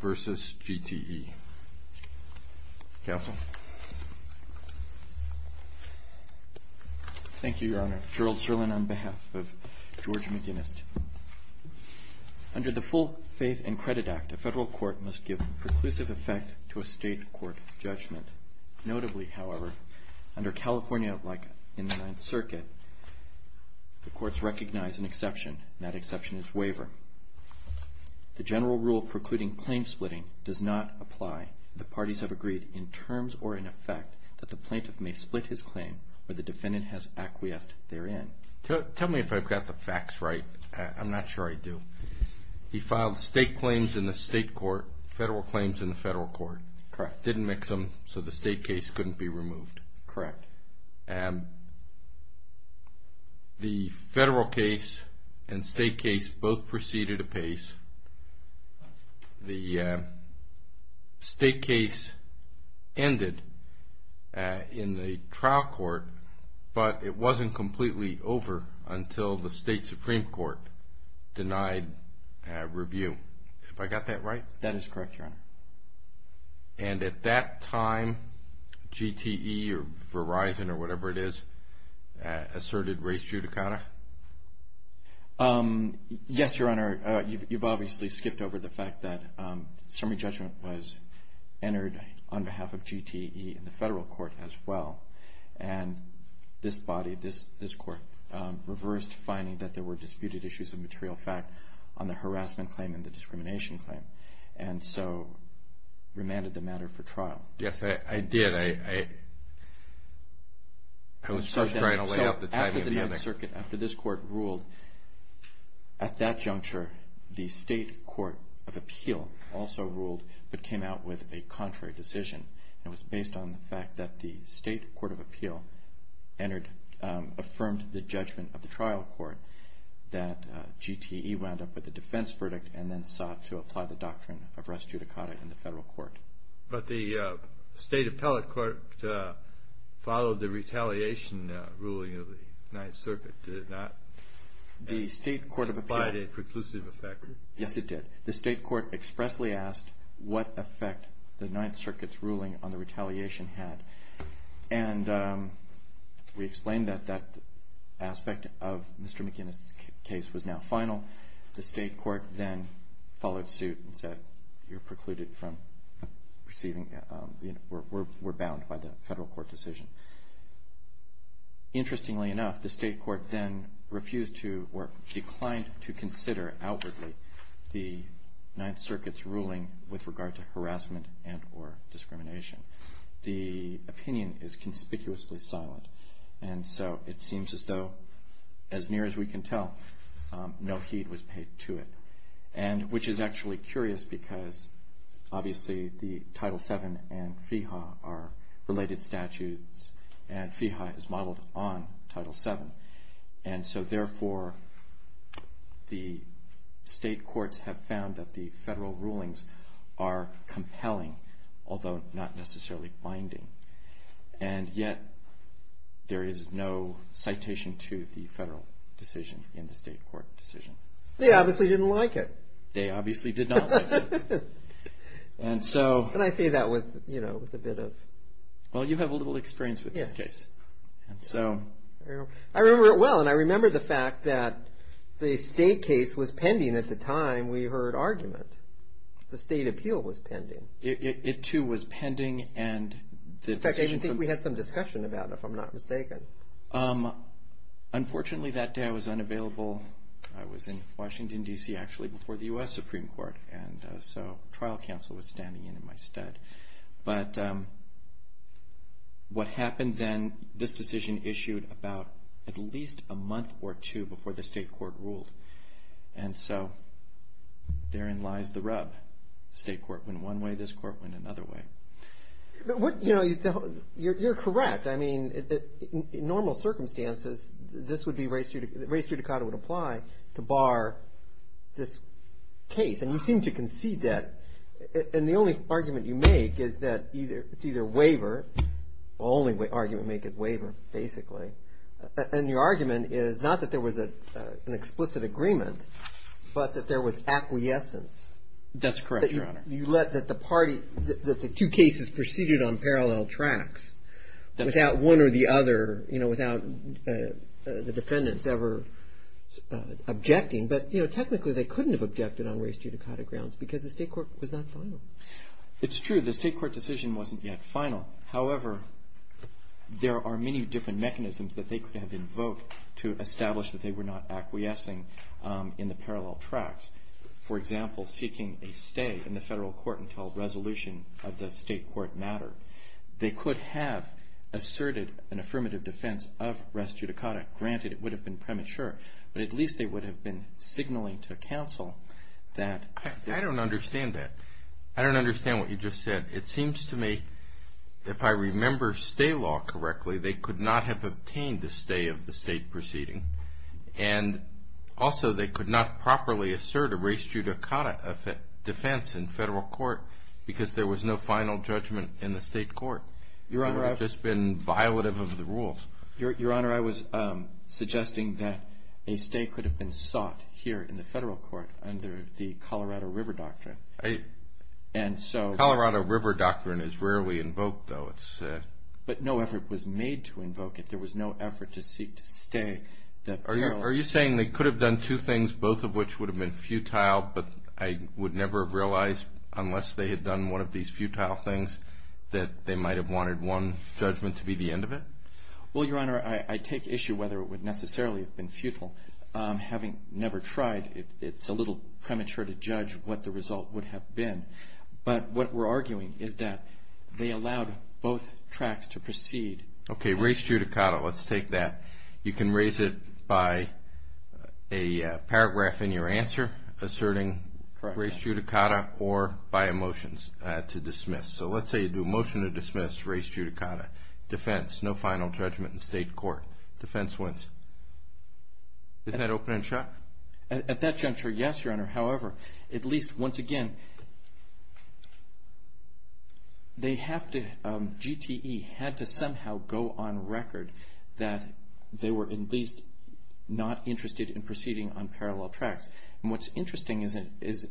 versus GTE. Counsel. Thank you, Your Honor. Gerald Serlin on behalf of George McGinest. Under the Full Faith and Credit Act, a federal court must give preclusive effect to a state court judgment. Notably, however, under California, like in the Ninth Circuit, the courts recognize an exception, and that exception is waiver. The general rule precluding claim splitting does not apply. The parties have agreed, in terms or in effect, that the plaintiff may split his claim where the defendant has acquiesced therein. Tell me if I've got the facts right. I'm not sure I do. He filed state claims in the state court, federal claims in the federal court. Correct. Didn't mix them, so the state case couldn't be removed. Correct. The state case ended in the trial court, but it wasn't completely over until the state Supreme Court denied review. Have I got that right? That is correct, Your Honor. And at that time, GTE or Verizon or whatever it is, asserted race judicata? Yes, Your Honor. You've obviously skipped over the fact that summary judgment was entered on behalf of GTE in the federal court as well, and this body, this court, reversed finding that there were disputed issues of material fact on the harassment claim and the discrimination claim, and so remanded the matter for trial. Yes, I did. I was just trying to lay out the timing. So after the end of the circuit, after this court ruled, at that juncture, the state court of appeal also ruled but came out with a contrary decision. It was based on the fact that the state court of appeal entered, affirmed the judgment of the trial court that GTE wound up with a defense verdict and then sought to apply the doctrine of race judicata in the federal court. But the state appellate court followed the retaliation ruling of the Ninth Circuit, did it not? The state court of appeal... Did it provide a preclusive effect? Yes, it did. The state court expressly asked what effect the Ninth Circuit's ruling on the retaliation had, and we explained that that aspect of Mr. McInnis's case was now final. The state court then followed suit and said, you're precluded from receiving, we're bound by the federal court decision. Interestingly enough, the state court then refused to, or declined to, consider outwardly the Ninth Circuit's ruling with regard to harassment and or discrimination. The opinion is conspicuously silent, and so it seems as though, as near as we can tell, no heed was paid to it. And which is actually curious because obviously the Title VII and FEHA are related statutes, and FEHA is modeled on Title VII, and so therefore the state courts have found that the federal rulings are compelling, although not necessarily binding. And yet there is no citation to the federal decision in the state court decision. They obviously didn't like it. They were a little concerned with a bit of... Well, you have a little experience with this case. I remember it well, and I remember the fact that the state case was pending at the time we heard argument. The state appeal was pending. It too was pending, and... In fact, I think we had some discussion about it, if I'm not mistaken. Unfortunately, that day I was unavailable. I was in Washington, D.C. actually, before the U.S. Supreme Court, and so trial counsel was standing in in my stead. But what happened then, this decision issued about at least a month or two before the state court ruled, and so therein lies the rub. The state court went one way, this court went another way. But what... You know, you're correct. I mean, in normal circumstances, this would be race... race judicata would apply to this case, and you seem to concede that. And the only argument you make is that it's either waiver... The only argument we make is waiver, basically. And your argument is not that there was an explicit agreement, but that there was acquiescence. That's correct, Your Honor. You let that the party... that the two cases proceeded on parallel tracks, without one or the other, you know, objecting. But, you know, technically they couldn't have objected on race judicata grounds, because the state court was not final. It's true. The state court decision wasn't yet final. However, there are many different mechanisms that they could have invoked to establish that they were not acquiescing in the parallel tracks. For example, seeking a stay in the federal court until resolution of the state court mattered. They could have asserted an affirmative defense of race judicata. Granted, it would have been premature, but at least they would have been signaling to counsel that... I don't understand that. I don't understand what you just said. It seems to me, if I remember stay law correctly, they could not have obtained the stay of the state proceeding. And also, they could not properly assert a race judicata defense in federal court, because there was no final judgment in the state court. Your Honor, I've just been violative of the rules. Your Honor, I was suggesting that a stay could have been sought here in the federal court under the Colorado River Doctrine. Colorado River Doctrine is rarely invoked, though. But no effort was made to invoke it. There was no effort to seek to stay. Are you saying they could have done two things, both of which would have been futile, but I would never have realized, unless they had done one of these futile things, that they would have had a judgment to be the end of it? Well, Your Honor, I take issue whether it would necessarily have been futile. Having never tried, it's a little premature to judge what the result would have been. But what we're arguing is that they allowed both tracts to proceed. Okay, race judicata. Let's take that. You can raise it by a paragraph in your answer asserting race judicata or by a motion to dismiss. So let's say you do a motion to dismiss race judicata. Defense, no final judgment in state court. Defense wins. Isn't that open and shut? At that juncture, yes, Your Honor. However, at least once again, they have to, GTE had to somehow go on record that they were at least not interested in proceeding on parallel tracts. And what's interesting is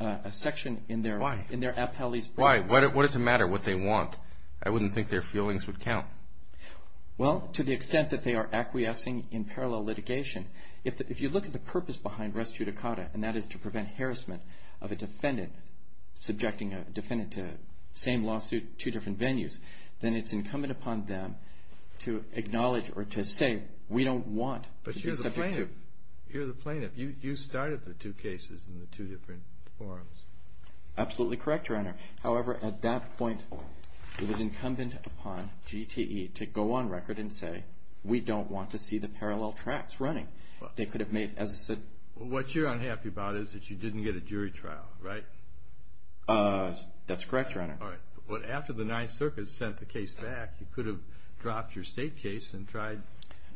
a section in their appellee's brief. Why? What does it matter what they want? I wouldn't think their feelings would count. Well, to the extent that they are acquiescing in parallel litigation, if you look at the purpose behind race judicata, and that is to prevent harassment of a defendant, subjecting a defendant to the same lawsuit, two different venues, then it's incumbent upon them to acknowledge or to say, we don't want to be subject to. But you're the plaintiff. You're the plaintiff. You started the two cases in the two different forums. Absolutely correct, Your Honor. However, at that point, it was incumbent upon GTE to go on record and say, we don't want to see the parallel tracts running. They could have made, as I said... What you're unhappy about is that you didn't get a jury trial, right? That's correct, Your Honor. Alright. But after the Ninth Circuit sent the case back, you could have dropped your state case and tried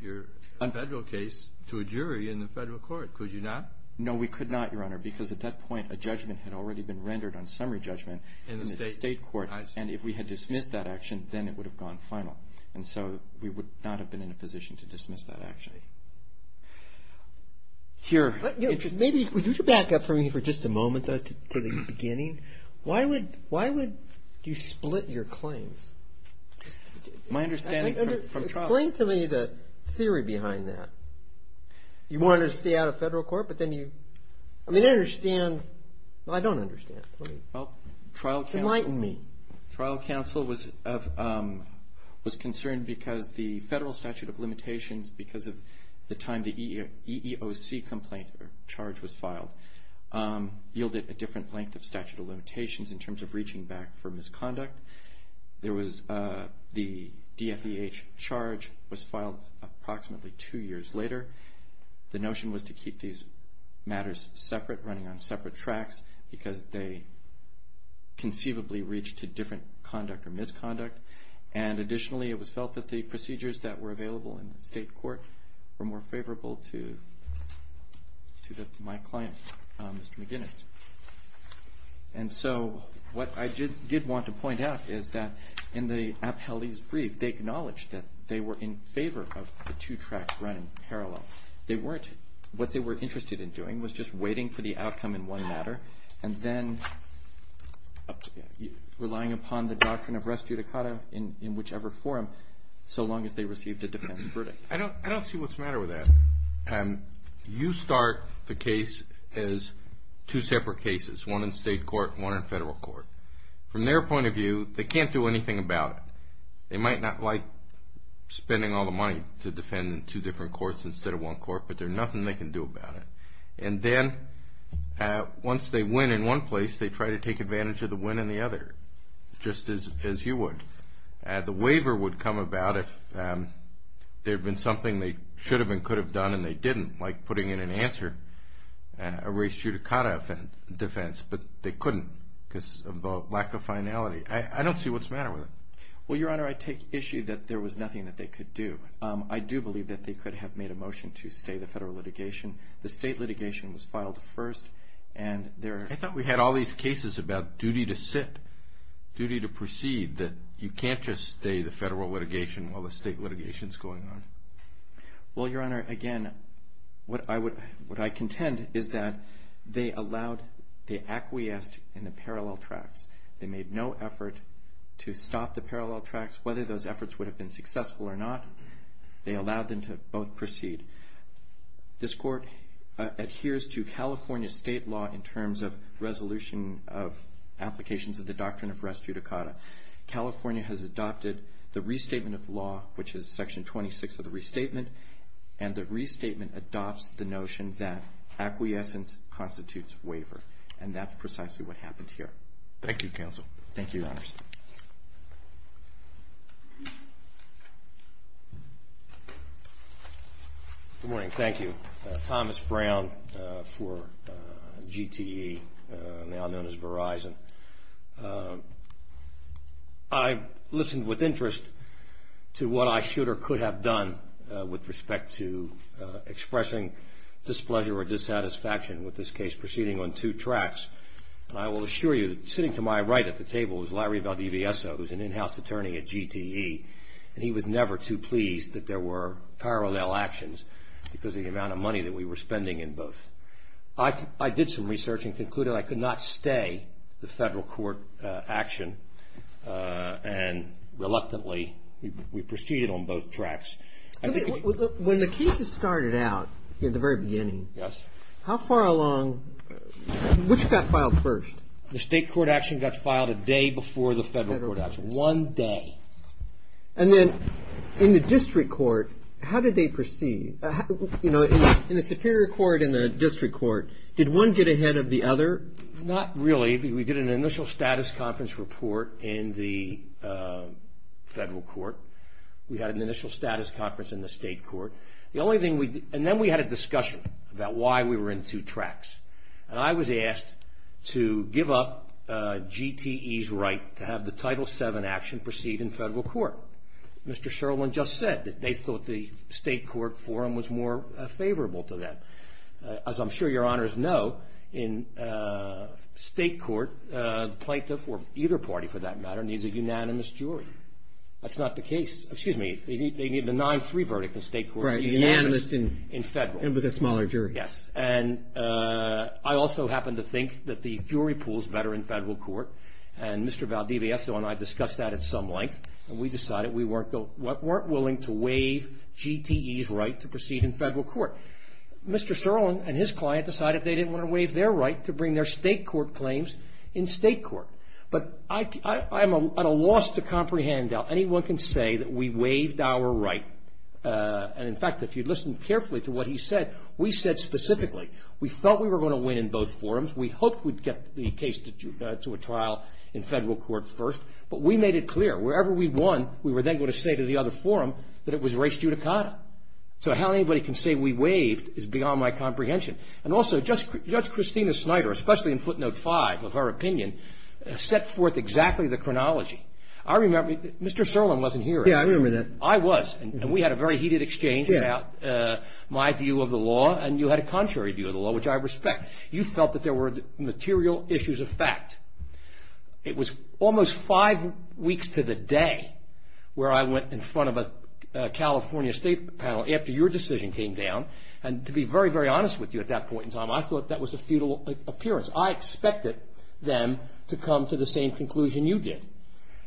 your federal case to a jury in the federal court. Could you not? No, we could not, Your Honor, because at that point, a judgment had already been rendered on summary judgment in the state court. And if we had dismissed that action, then it would have gone final. And so we would not have been in a position to dismiss that action. Your Honor... Maybe, would you back up for me for just a moment, though, to the beginning? Why would you split your claims? My understanding... Explain to me the theory behind that. You wanted to stay out of federal court, but then you... I mean, I understand. Well, I don't understand. Enlighten me. Trial counsel was concerned because the federal statute of limitations, because of the time the EEOC complaint charge was filed, yielded a different length of statute of limitations in terms of reaching back for misconduct. There was the DFEH charge was filed approximately two years later. The notion was to keep these matters separate, running on separate tracks, because they conceivably reached a different conduct or misconduct. And additionally, it was felt that the procedures that were available in the state court were more favorable to my client, Mr. McGinnis. And so what I did want to point out is that in the appellee's brief, they acknowledged that they were in favor of the two tracks running parallel. They weren't... What they were interested in doing was just waiting for the outcome in one matter, and then relying upon the doctrine of res judicata in whichever forum, so long as they received a defense verdict. I don't see what's the matter with that. You start the case as two separate cases, one in state court and one in federal court. From their point of view, they can't do anything about it. They might not like spending all the money to defend in two different courts instead of one court, but there's nothing they can do about it. And then once they win in one place, they try to take advantage of the win in the other, just as you would. The waiver would come about if there had been something they should have and could have done, and they didn't, like putting in an answer, a res judicata defense, but they couldn't because of the lack of finality. I don't see what's the matter with it. Well, Your Honor, I take issue that there was nothing that they could do. I do believe that they could have made a motion to stay the federal litigation. The state litigation was filed first, and there... I thought we had all these cases about duty to sit, duty to proceed, that you can't just stay the federal litigation while the state litigation's going on. Well, Your Honor, again, what I contend is that they allowed... They acquiesced in the parallel tracts. They made no effort to stop the parallel tracts. Whether those efforts would have been successful or not, they allowed them to both proceed. This court adheres to California state law in terms of resolution of applications of the doctrine of res judicata. California has adopted the restatement of law, which is section 26 of the restatement, and the restatement adopts the notion that acquiescence constitutes waiver, and that's precisely what happened here. Thank you, Counsel. Thank you, Your Honor. Good morning. Thank you. Thomas Brown for GTE, now known as Verizon. I listened with interest to what I should or could have done with respect to expressing displeasure or dissatisfaction with this case proceeding on two tracts. I will assure you, sitting to my right at the table is Larry Valdivieso, who's an in house attorney at GTE, and he was never too pleased that there were parallel actions because of the amount of money that we were spending in both. I did some research and concluded I could not stay the federal court action, and reluctantly, we proceeded on both tracts. When the cases started out in the very beginning, how far along... Which got filed first? The state court action got filed a day before the federal court action, one day. And then in the district court, how did they proceed? In the superior court and the district court, did one get ahead of the other? Not really. We did an initial status conference report in the federal court. We had an initial status conference in the state court. The only thing we... And then we had a discussion about why we were in two tracts. And I was asked to give up GTE's right to have the Title VII action proceed in federal court. Mr. Sherwin just said that they thought the state court forum was more favorable to that. As I'm sure your honors know, in state court, plaintiff, or either party for that matter, needs a unanimous jury. That's not the case. Excuse me, they need a 9-3 verdict in state court to be unanimous in federal. And with a smaller jury. Yes. And I also happen to think that the jury pool is better in federal court. And Mr. Valdivieso and I discussed that at some length, and we decided we weren't willing to waive GTE's right to proceed in federal court. Mr. Sherwin and his client decided they didn't wanna waive their right to bring their state court claims in state court. But I'm at a loss to comprehend how anyone can say that we waived our right. And in fact, if you'd listen carefully to what he said, we said specifically, we thought we were gonna win in both forums. We hoped we'd get the case to a trial in federal court first, but we made it clear wherever we'd won, we were then gonna say to the other forum that it was race judicata. So how anybody can say we waived is beyond my comprehension. And also, Judge Christina Snyder, especially in footnote five of her opinion, set forth exactly the chronology. I remember... Mr. Serlin wasn't here. Yeah, I remember that. I was, and we had a very heated exchange about my view of the law, and you had a contrary view of the law, which I respect. You felt that there were material issues of fact. It was almost five weeks to the day where I went in front of a California state panel after your decision came down, and to be very, very honest with you at that point in time, I thought that was a futile appearance. I expected them to come to the same conclusion you did.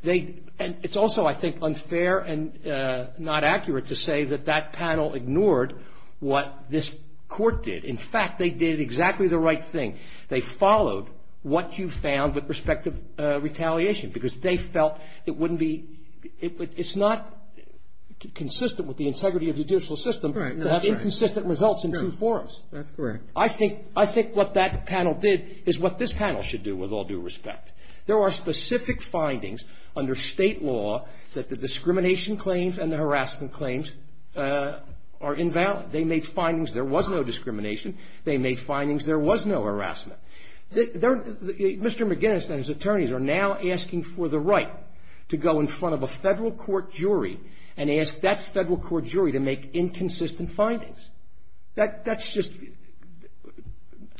And it's also, I think, unfair and not accurate to say that that panel ignored what this court did. In fact, they did exactly the right thing. They followed what you found with respect to retaliation, because they felt it wouldn't be... It's not consistent with the integrity of judicial system to have inconsistent results in two forums. That's correct. I think... I think what that panel did is what this panel should do, with all due respect. There are specific findings under state law that the discrimination claims and the harassment claims are invalid. They made findings there was no discrimination. They made findings there was no harassment. They're... Mr. McGinnis and his attorneys are now asking for the right to go in front of a Federal court jury and ask that Federal court jury to make inconsistent findings. That...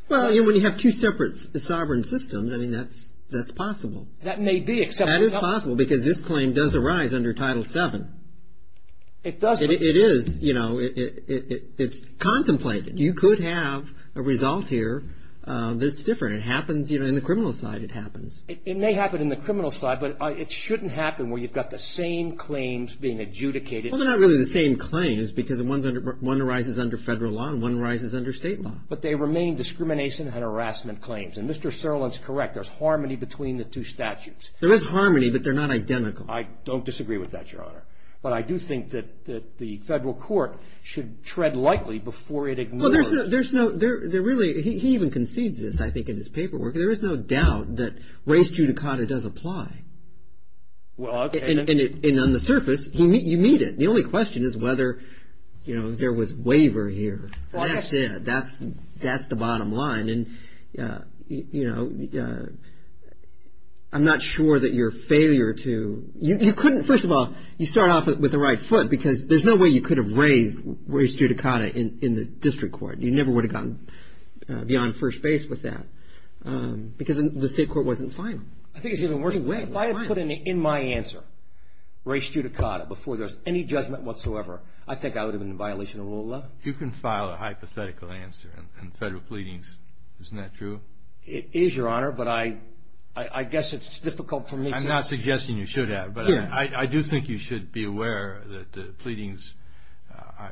Well, you know, when you have two separate sovereign systems, I mean, that's possible. That may be, except... That is possible, because this claim does arise under Title VII. It does, but... It is, you know, it's contemplated. You could have a result here that's different. It happens, you know, in the criminal side, it happens. It may happen in the criminal side, but it shouldn't happen where you've got the same claims being adjudicated... Well, they're not really the same claims, because one arises under Federal law and one arises under state law. But they remain discrimination and harassment claims. And Mr. Serlin's correct. There's harmony between the two statutes. There is harmony, but they're not identical. I don't disagree with that, Your Honor. But I do think that the Federal court should tread lightly before it ignores... Well, there's no... There really... He even concedes this, I think, in his paperwork. There is no doubt that race judicata does apply. Well, okay... And on the surface, you meet it. The only question is whether there was waiver here. That's it. That's the bottom line. I'm not sure that your failure to... You couldn't... First of all, you start off with the right foot, because there's no way you could have raised race judicata in the district court. You never would have gotten beyond first base with that, because the state court wasn't fine. I think it's even worse... If I had put in my answer, race judicata, before there's any judgment whatsoever, I think I would have been in violation of the rule of law. If you can file a hypothetical answer in federal pleadings, isn't that true? It is, Your Honor, but I guess it's difficult for me to... I'm not suggesting you should have, but I do think you should be aware that the pleadings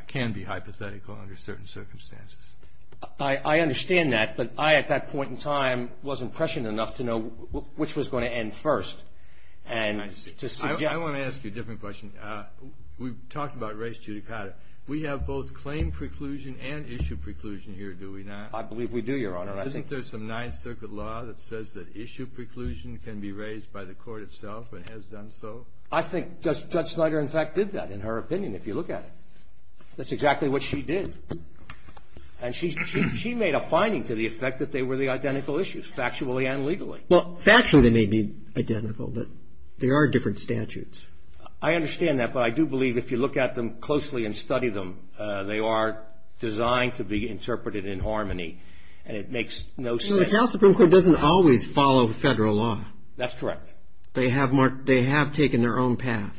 can be hypothetical under certain circumstances. I understand that, but I, at that point in time, wasn't prescient enough to know which was gonna end first, and to suggest... I wanna ask you a different question. We've talked about race judicata. We have both claim preclusion and issue preclusion here, do we not? I believe we do, Your Honor. Isn't there some Ninth Circuit law that says that issue preclusion can be raised by the court itself, and has done so? I think Judge Snyder, in fact, did that, in her opinion, if you look at it. That's exactly what she did. And she made a finding to the effect that they were the identical issues, factually and legally. Well, factually they may be identical, but they are different statutes. I understand that, but I do believe if you look at them closely and study them, they are designed to be interpreted in harmony, and it makes no sense... No, the California Supreme Court doesn't always follow federal law. That's correct. They have taken their own path.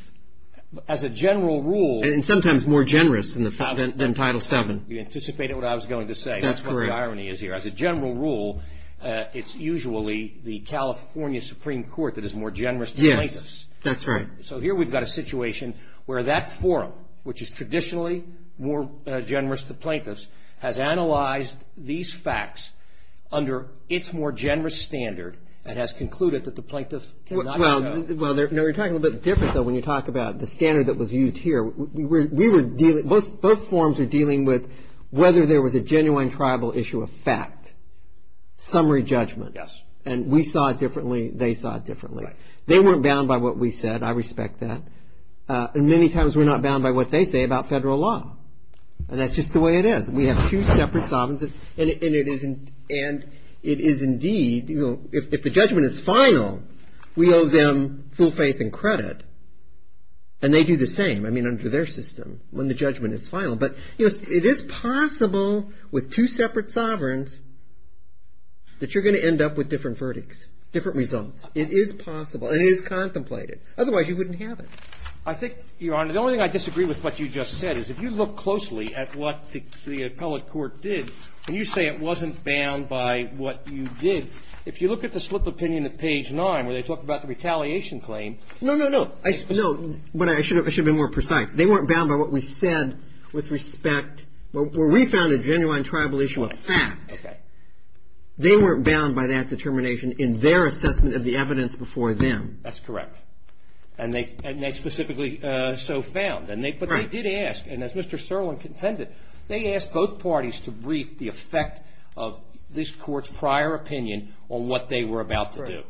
As a general rule... And sometimes more generous than Title VII. You anticipated what I was going to say. That's correct. That's what the irony is here. As a general rule, it's usually the California Supreme Court that is more generous to plaintiffs. Yes, that's right. So here we've got a situation where that forum, which is traditionally more generous to plaintiffs, has analyzed these facts under its more generous standard, and has concluded that the plaintiffs cannot... Well, you're talking a little bit different, though, when you talk about the standard that was used here. Both forums are dealing with whether there was a genuine tribal issue of fact, summary judgment, and we saw it differently, they saw it differently. They weren't bound by what we said. I respect that. And many times we're not bound by what they say about federal law. And that's just the way it is. We have two separate sovereigns, and it is indeed... If the judgment is final, we owe them full faith and credit, and they do the same under their system when the judgment is final. But, you know, it is possible with two separate sovereigns that you're going to end up with different verdicts, different results. It is possible, and it is contemplated. Otherwise, you wouldn't have it. I think, Your Honor, the only thing I disagree with what you just said is, if you look closely at what the appellate court did, and you say it wasn't bound by what you did, if you look at the slip opinion at page nine, where they talk about the retaliation claim... No, no, no. No, but I should have been more precise. They weren't bound by what we said with respect... Where we found a genuine tribal issue of fact, they weren't bound by that determination in their assessment of the evidence before them. That's correct. And they specifically so found. But they did ask, and as Mr. Serlin contended, they asked both parties to brief the effect of this court's prior opinion on what they were about to do.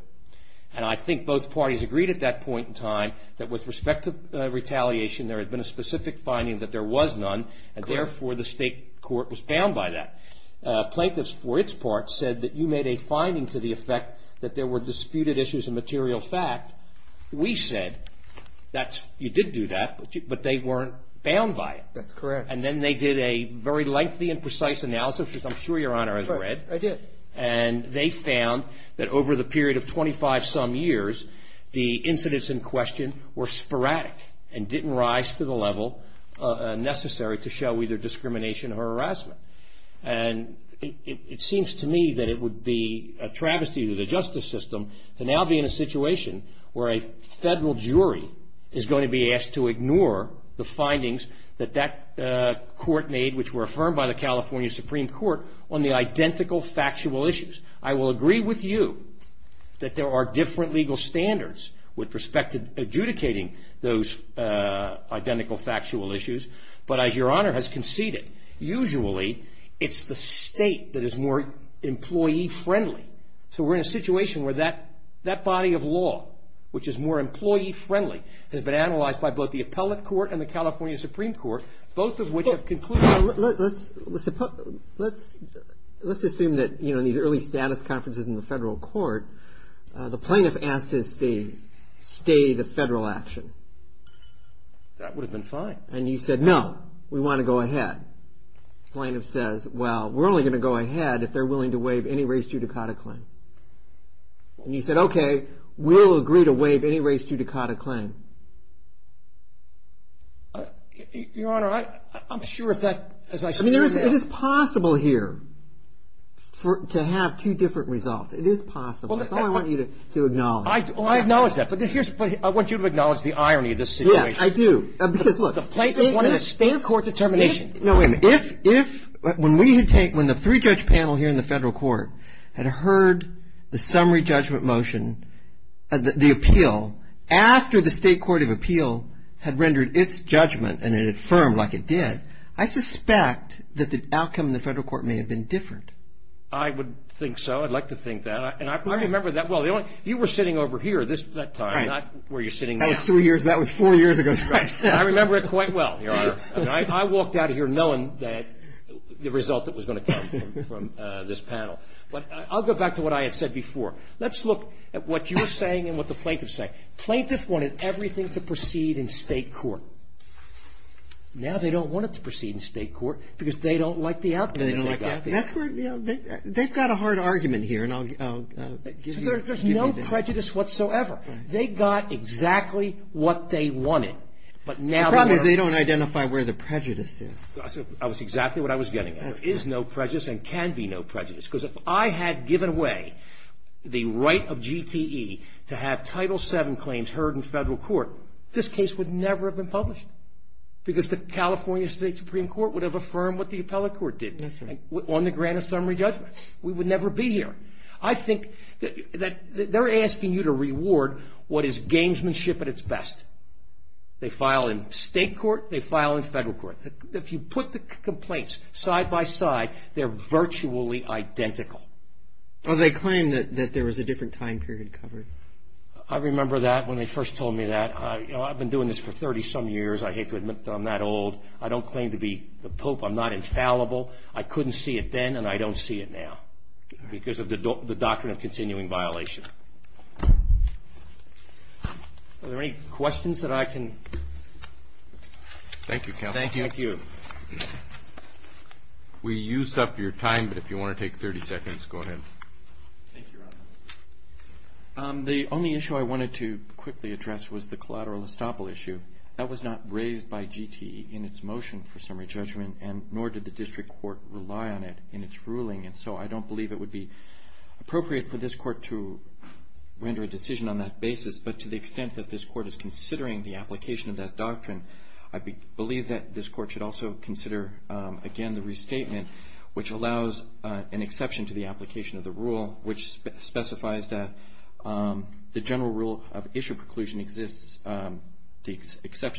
And I think both parties agreed at that point in time that with respect to retaliation, there had been a specific finding that there was none, and therefore, the state court was bound by that. Plaintiffs, for its part, said that you made a finding to the effect that there were disputed issues of material fact. We said, you did do that, but they weren't bound by it. That's correct. And then they did a very lengthy and precise analysis, which I'm sure Your Honor has read. I did. And they found that over the period of 25-some years, the incidents in question were sporadic and didn't rise to the level necessary to show either discrimination or harassment. And it seems to me that it would be a travesty to the justice system to now be in a situation where a federal jury is going to be asked to ignore the findings that that court made, which were affirmed by the California Supreme Court, on the identical factual issues. I will agree with you that there are different legal standards with respect to adjudicating those identical factual issues. But as Your Honor has conceded, usually it's the state that is more employee-friendly. So we're in a situation where that body of law, which is more employee-friendly, has been analyzed by both the appellate court and the California Supreme Court, both of which have concluded... Let's assume that, you know, in these early status conferences in the federal court, the plaintiff asked to stay the federal action. That would have been fine. And you said, no, we want to go ahead. Plaintiff says, well, we're only going to go ahead if they're willing to waive any race judicata claim. And you said, okay, we'll agree to waive any race judicata claim. Your Honor, I'm sure if that, as I said, it is possible here to have two different results. It is possible. That's all I want you to acknowledge. I acknowledge that. But here's what I want you to acknowledge, the irony of this situation. Yes, I do. Because look, the plaintiff wanted a state court determination. No, wait a minute. If, when we had taken, when the three-judge panel here in the federal court had heard the summary judgment motion, the appeal, after the state court of appeal had rendered its judgment and it affirmed like it did, I suspect that the outcome in the federal court may have been different. I would think so. I'd like to think that. And I remember that well. You were sitting over here this, that time, not where you're sitting now. That was three years, that was four years ago. I remember it quite well, Your Honor. I walked out of here knowing that the result that was going to come from this panel. But I'll go back to what I had said before. Let's look at what you're saying and what the plaintiffs say. Plaintiffs wanted everything to proceed in state court. Now they don't want it to proceed in state court because they don't like the outcome. They don't like the outcome. That's where, you know, they've got a hard argument here, and I'll give you the answer. There's no prejudice whatsoever. They got exactly what they wanted. But now they're going to go. The problem is they don't identify where the prejudice is. That was exactly what I was getting at. There is no prejudice and can be no prejudice. Because if I had given away the right of GTE to have Title VII claims heard in federal court, this case would never have been published. Because the California State Supreme Court would have affirmed what the appellate court did on the grant of summary judgment. We would never be here. I think that they're asking you to reward what is gamesmanship at its best. They file in state court. They file in federal court. If you put the complaints side by side, they're virtually identical. Well, they claim that there was a different time period covered. I remember that when they first told me that. You know, I've been doing this for 30 some years. I hate to admit that I'm that old. I don't claim to be the pope. I'm not infallible. I couldn't see it then and I don't see it now. Because of the doctrine of continuing violation. Are there any questions that I can? Thank you, counsel. Thank you. We used up your time, but if you want to take 30 seconds, go ahead. The only issue I wanted to quickly address was the collateral estoppel issue. That was not raised by GTE in its motion for summary judgment, and nor did the district court rely on it in its ruling. And so I don't believe it would be appropriate for this court to render a decision on that basis. But to the extent that this court is considering the application of that doctrine, I believe that this court should also consider, again, the restatement, which allows an exception to the application of the rule, which the exception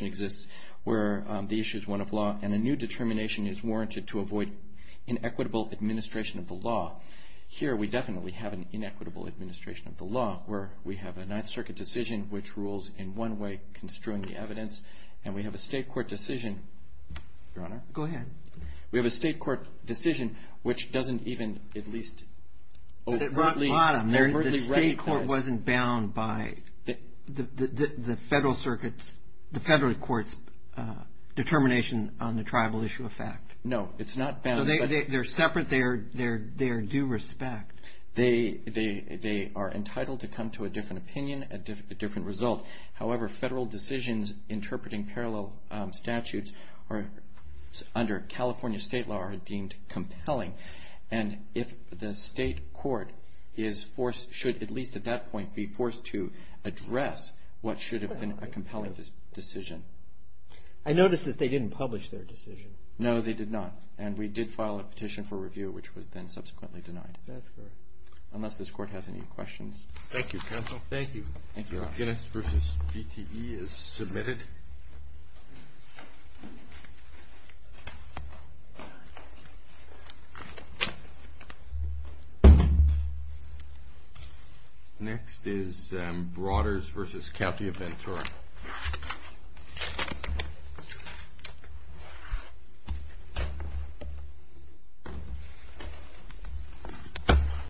exists, where the issue is one of law and a new determination is warranted to avoid inequitable administration of the law. Here, we definitely have an inequitable administration of the law, where we have a Ninth Circuit decision which rules in one way, construing the evidence, and we have a state court decision, which doesn't even at least overtly recognize. The state court wasn't bound by the federal court's determination on the tribal issue of fact. No, it's not. So they're separate. They are due respect. They are entitled to come to a different opinion, a different result. However, federal decisions interpreting parallel statutes under California state law are deemed compelling. And if the state court is forced, should at least at that point be forced to address what should have been a compelling decision. I notice that they didn't publish their decision. No, they did not. And we did file a petition for review, which was then subsequently denied. That's correct. Unless this court has any questions. Thank you, counsel. Thank you. Thank you, Alex. Guinness v. GTE is submitted. Next is Broaders v. County of Ventura.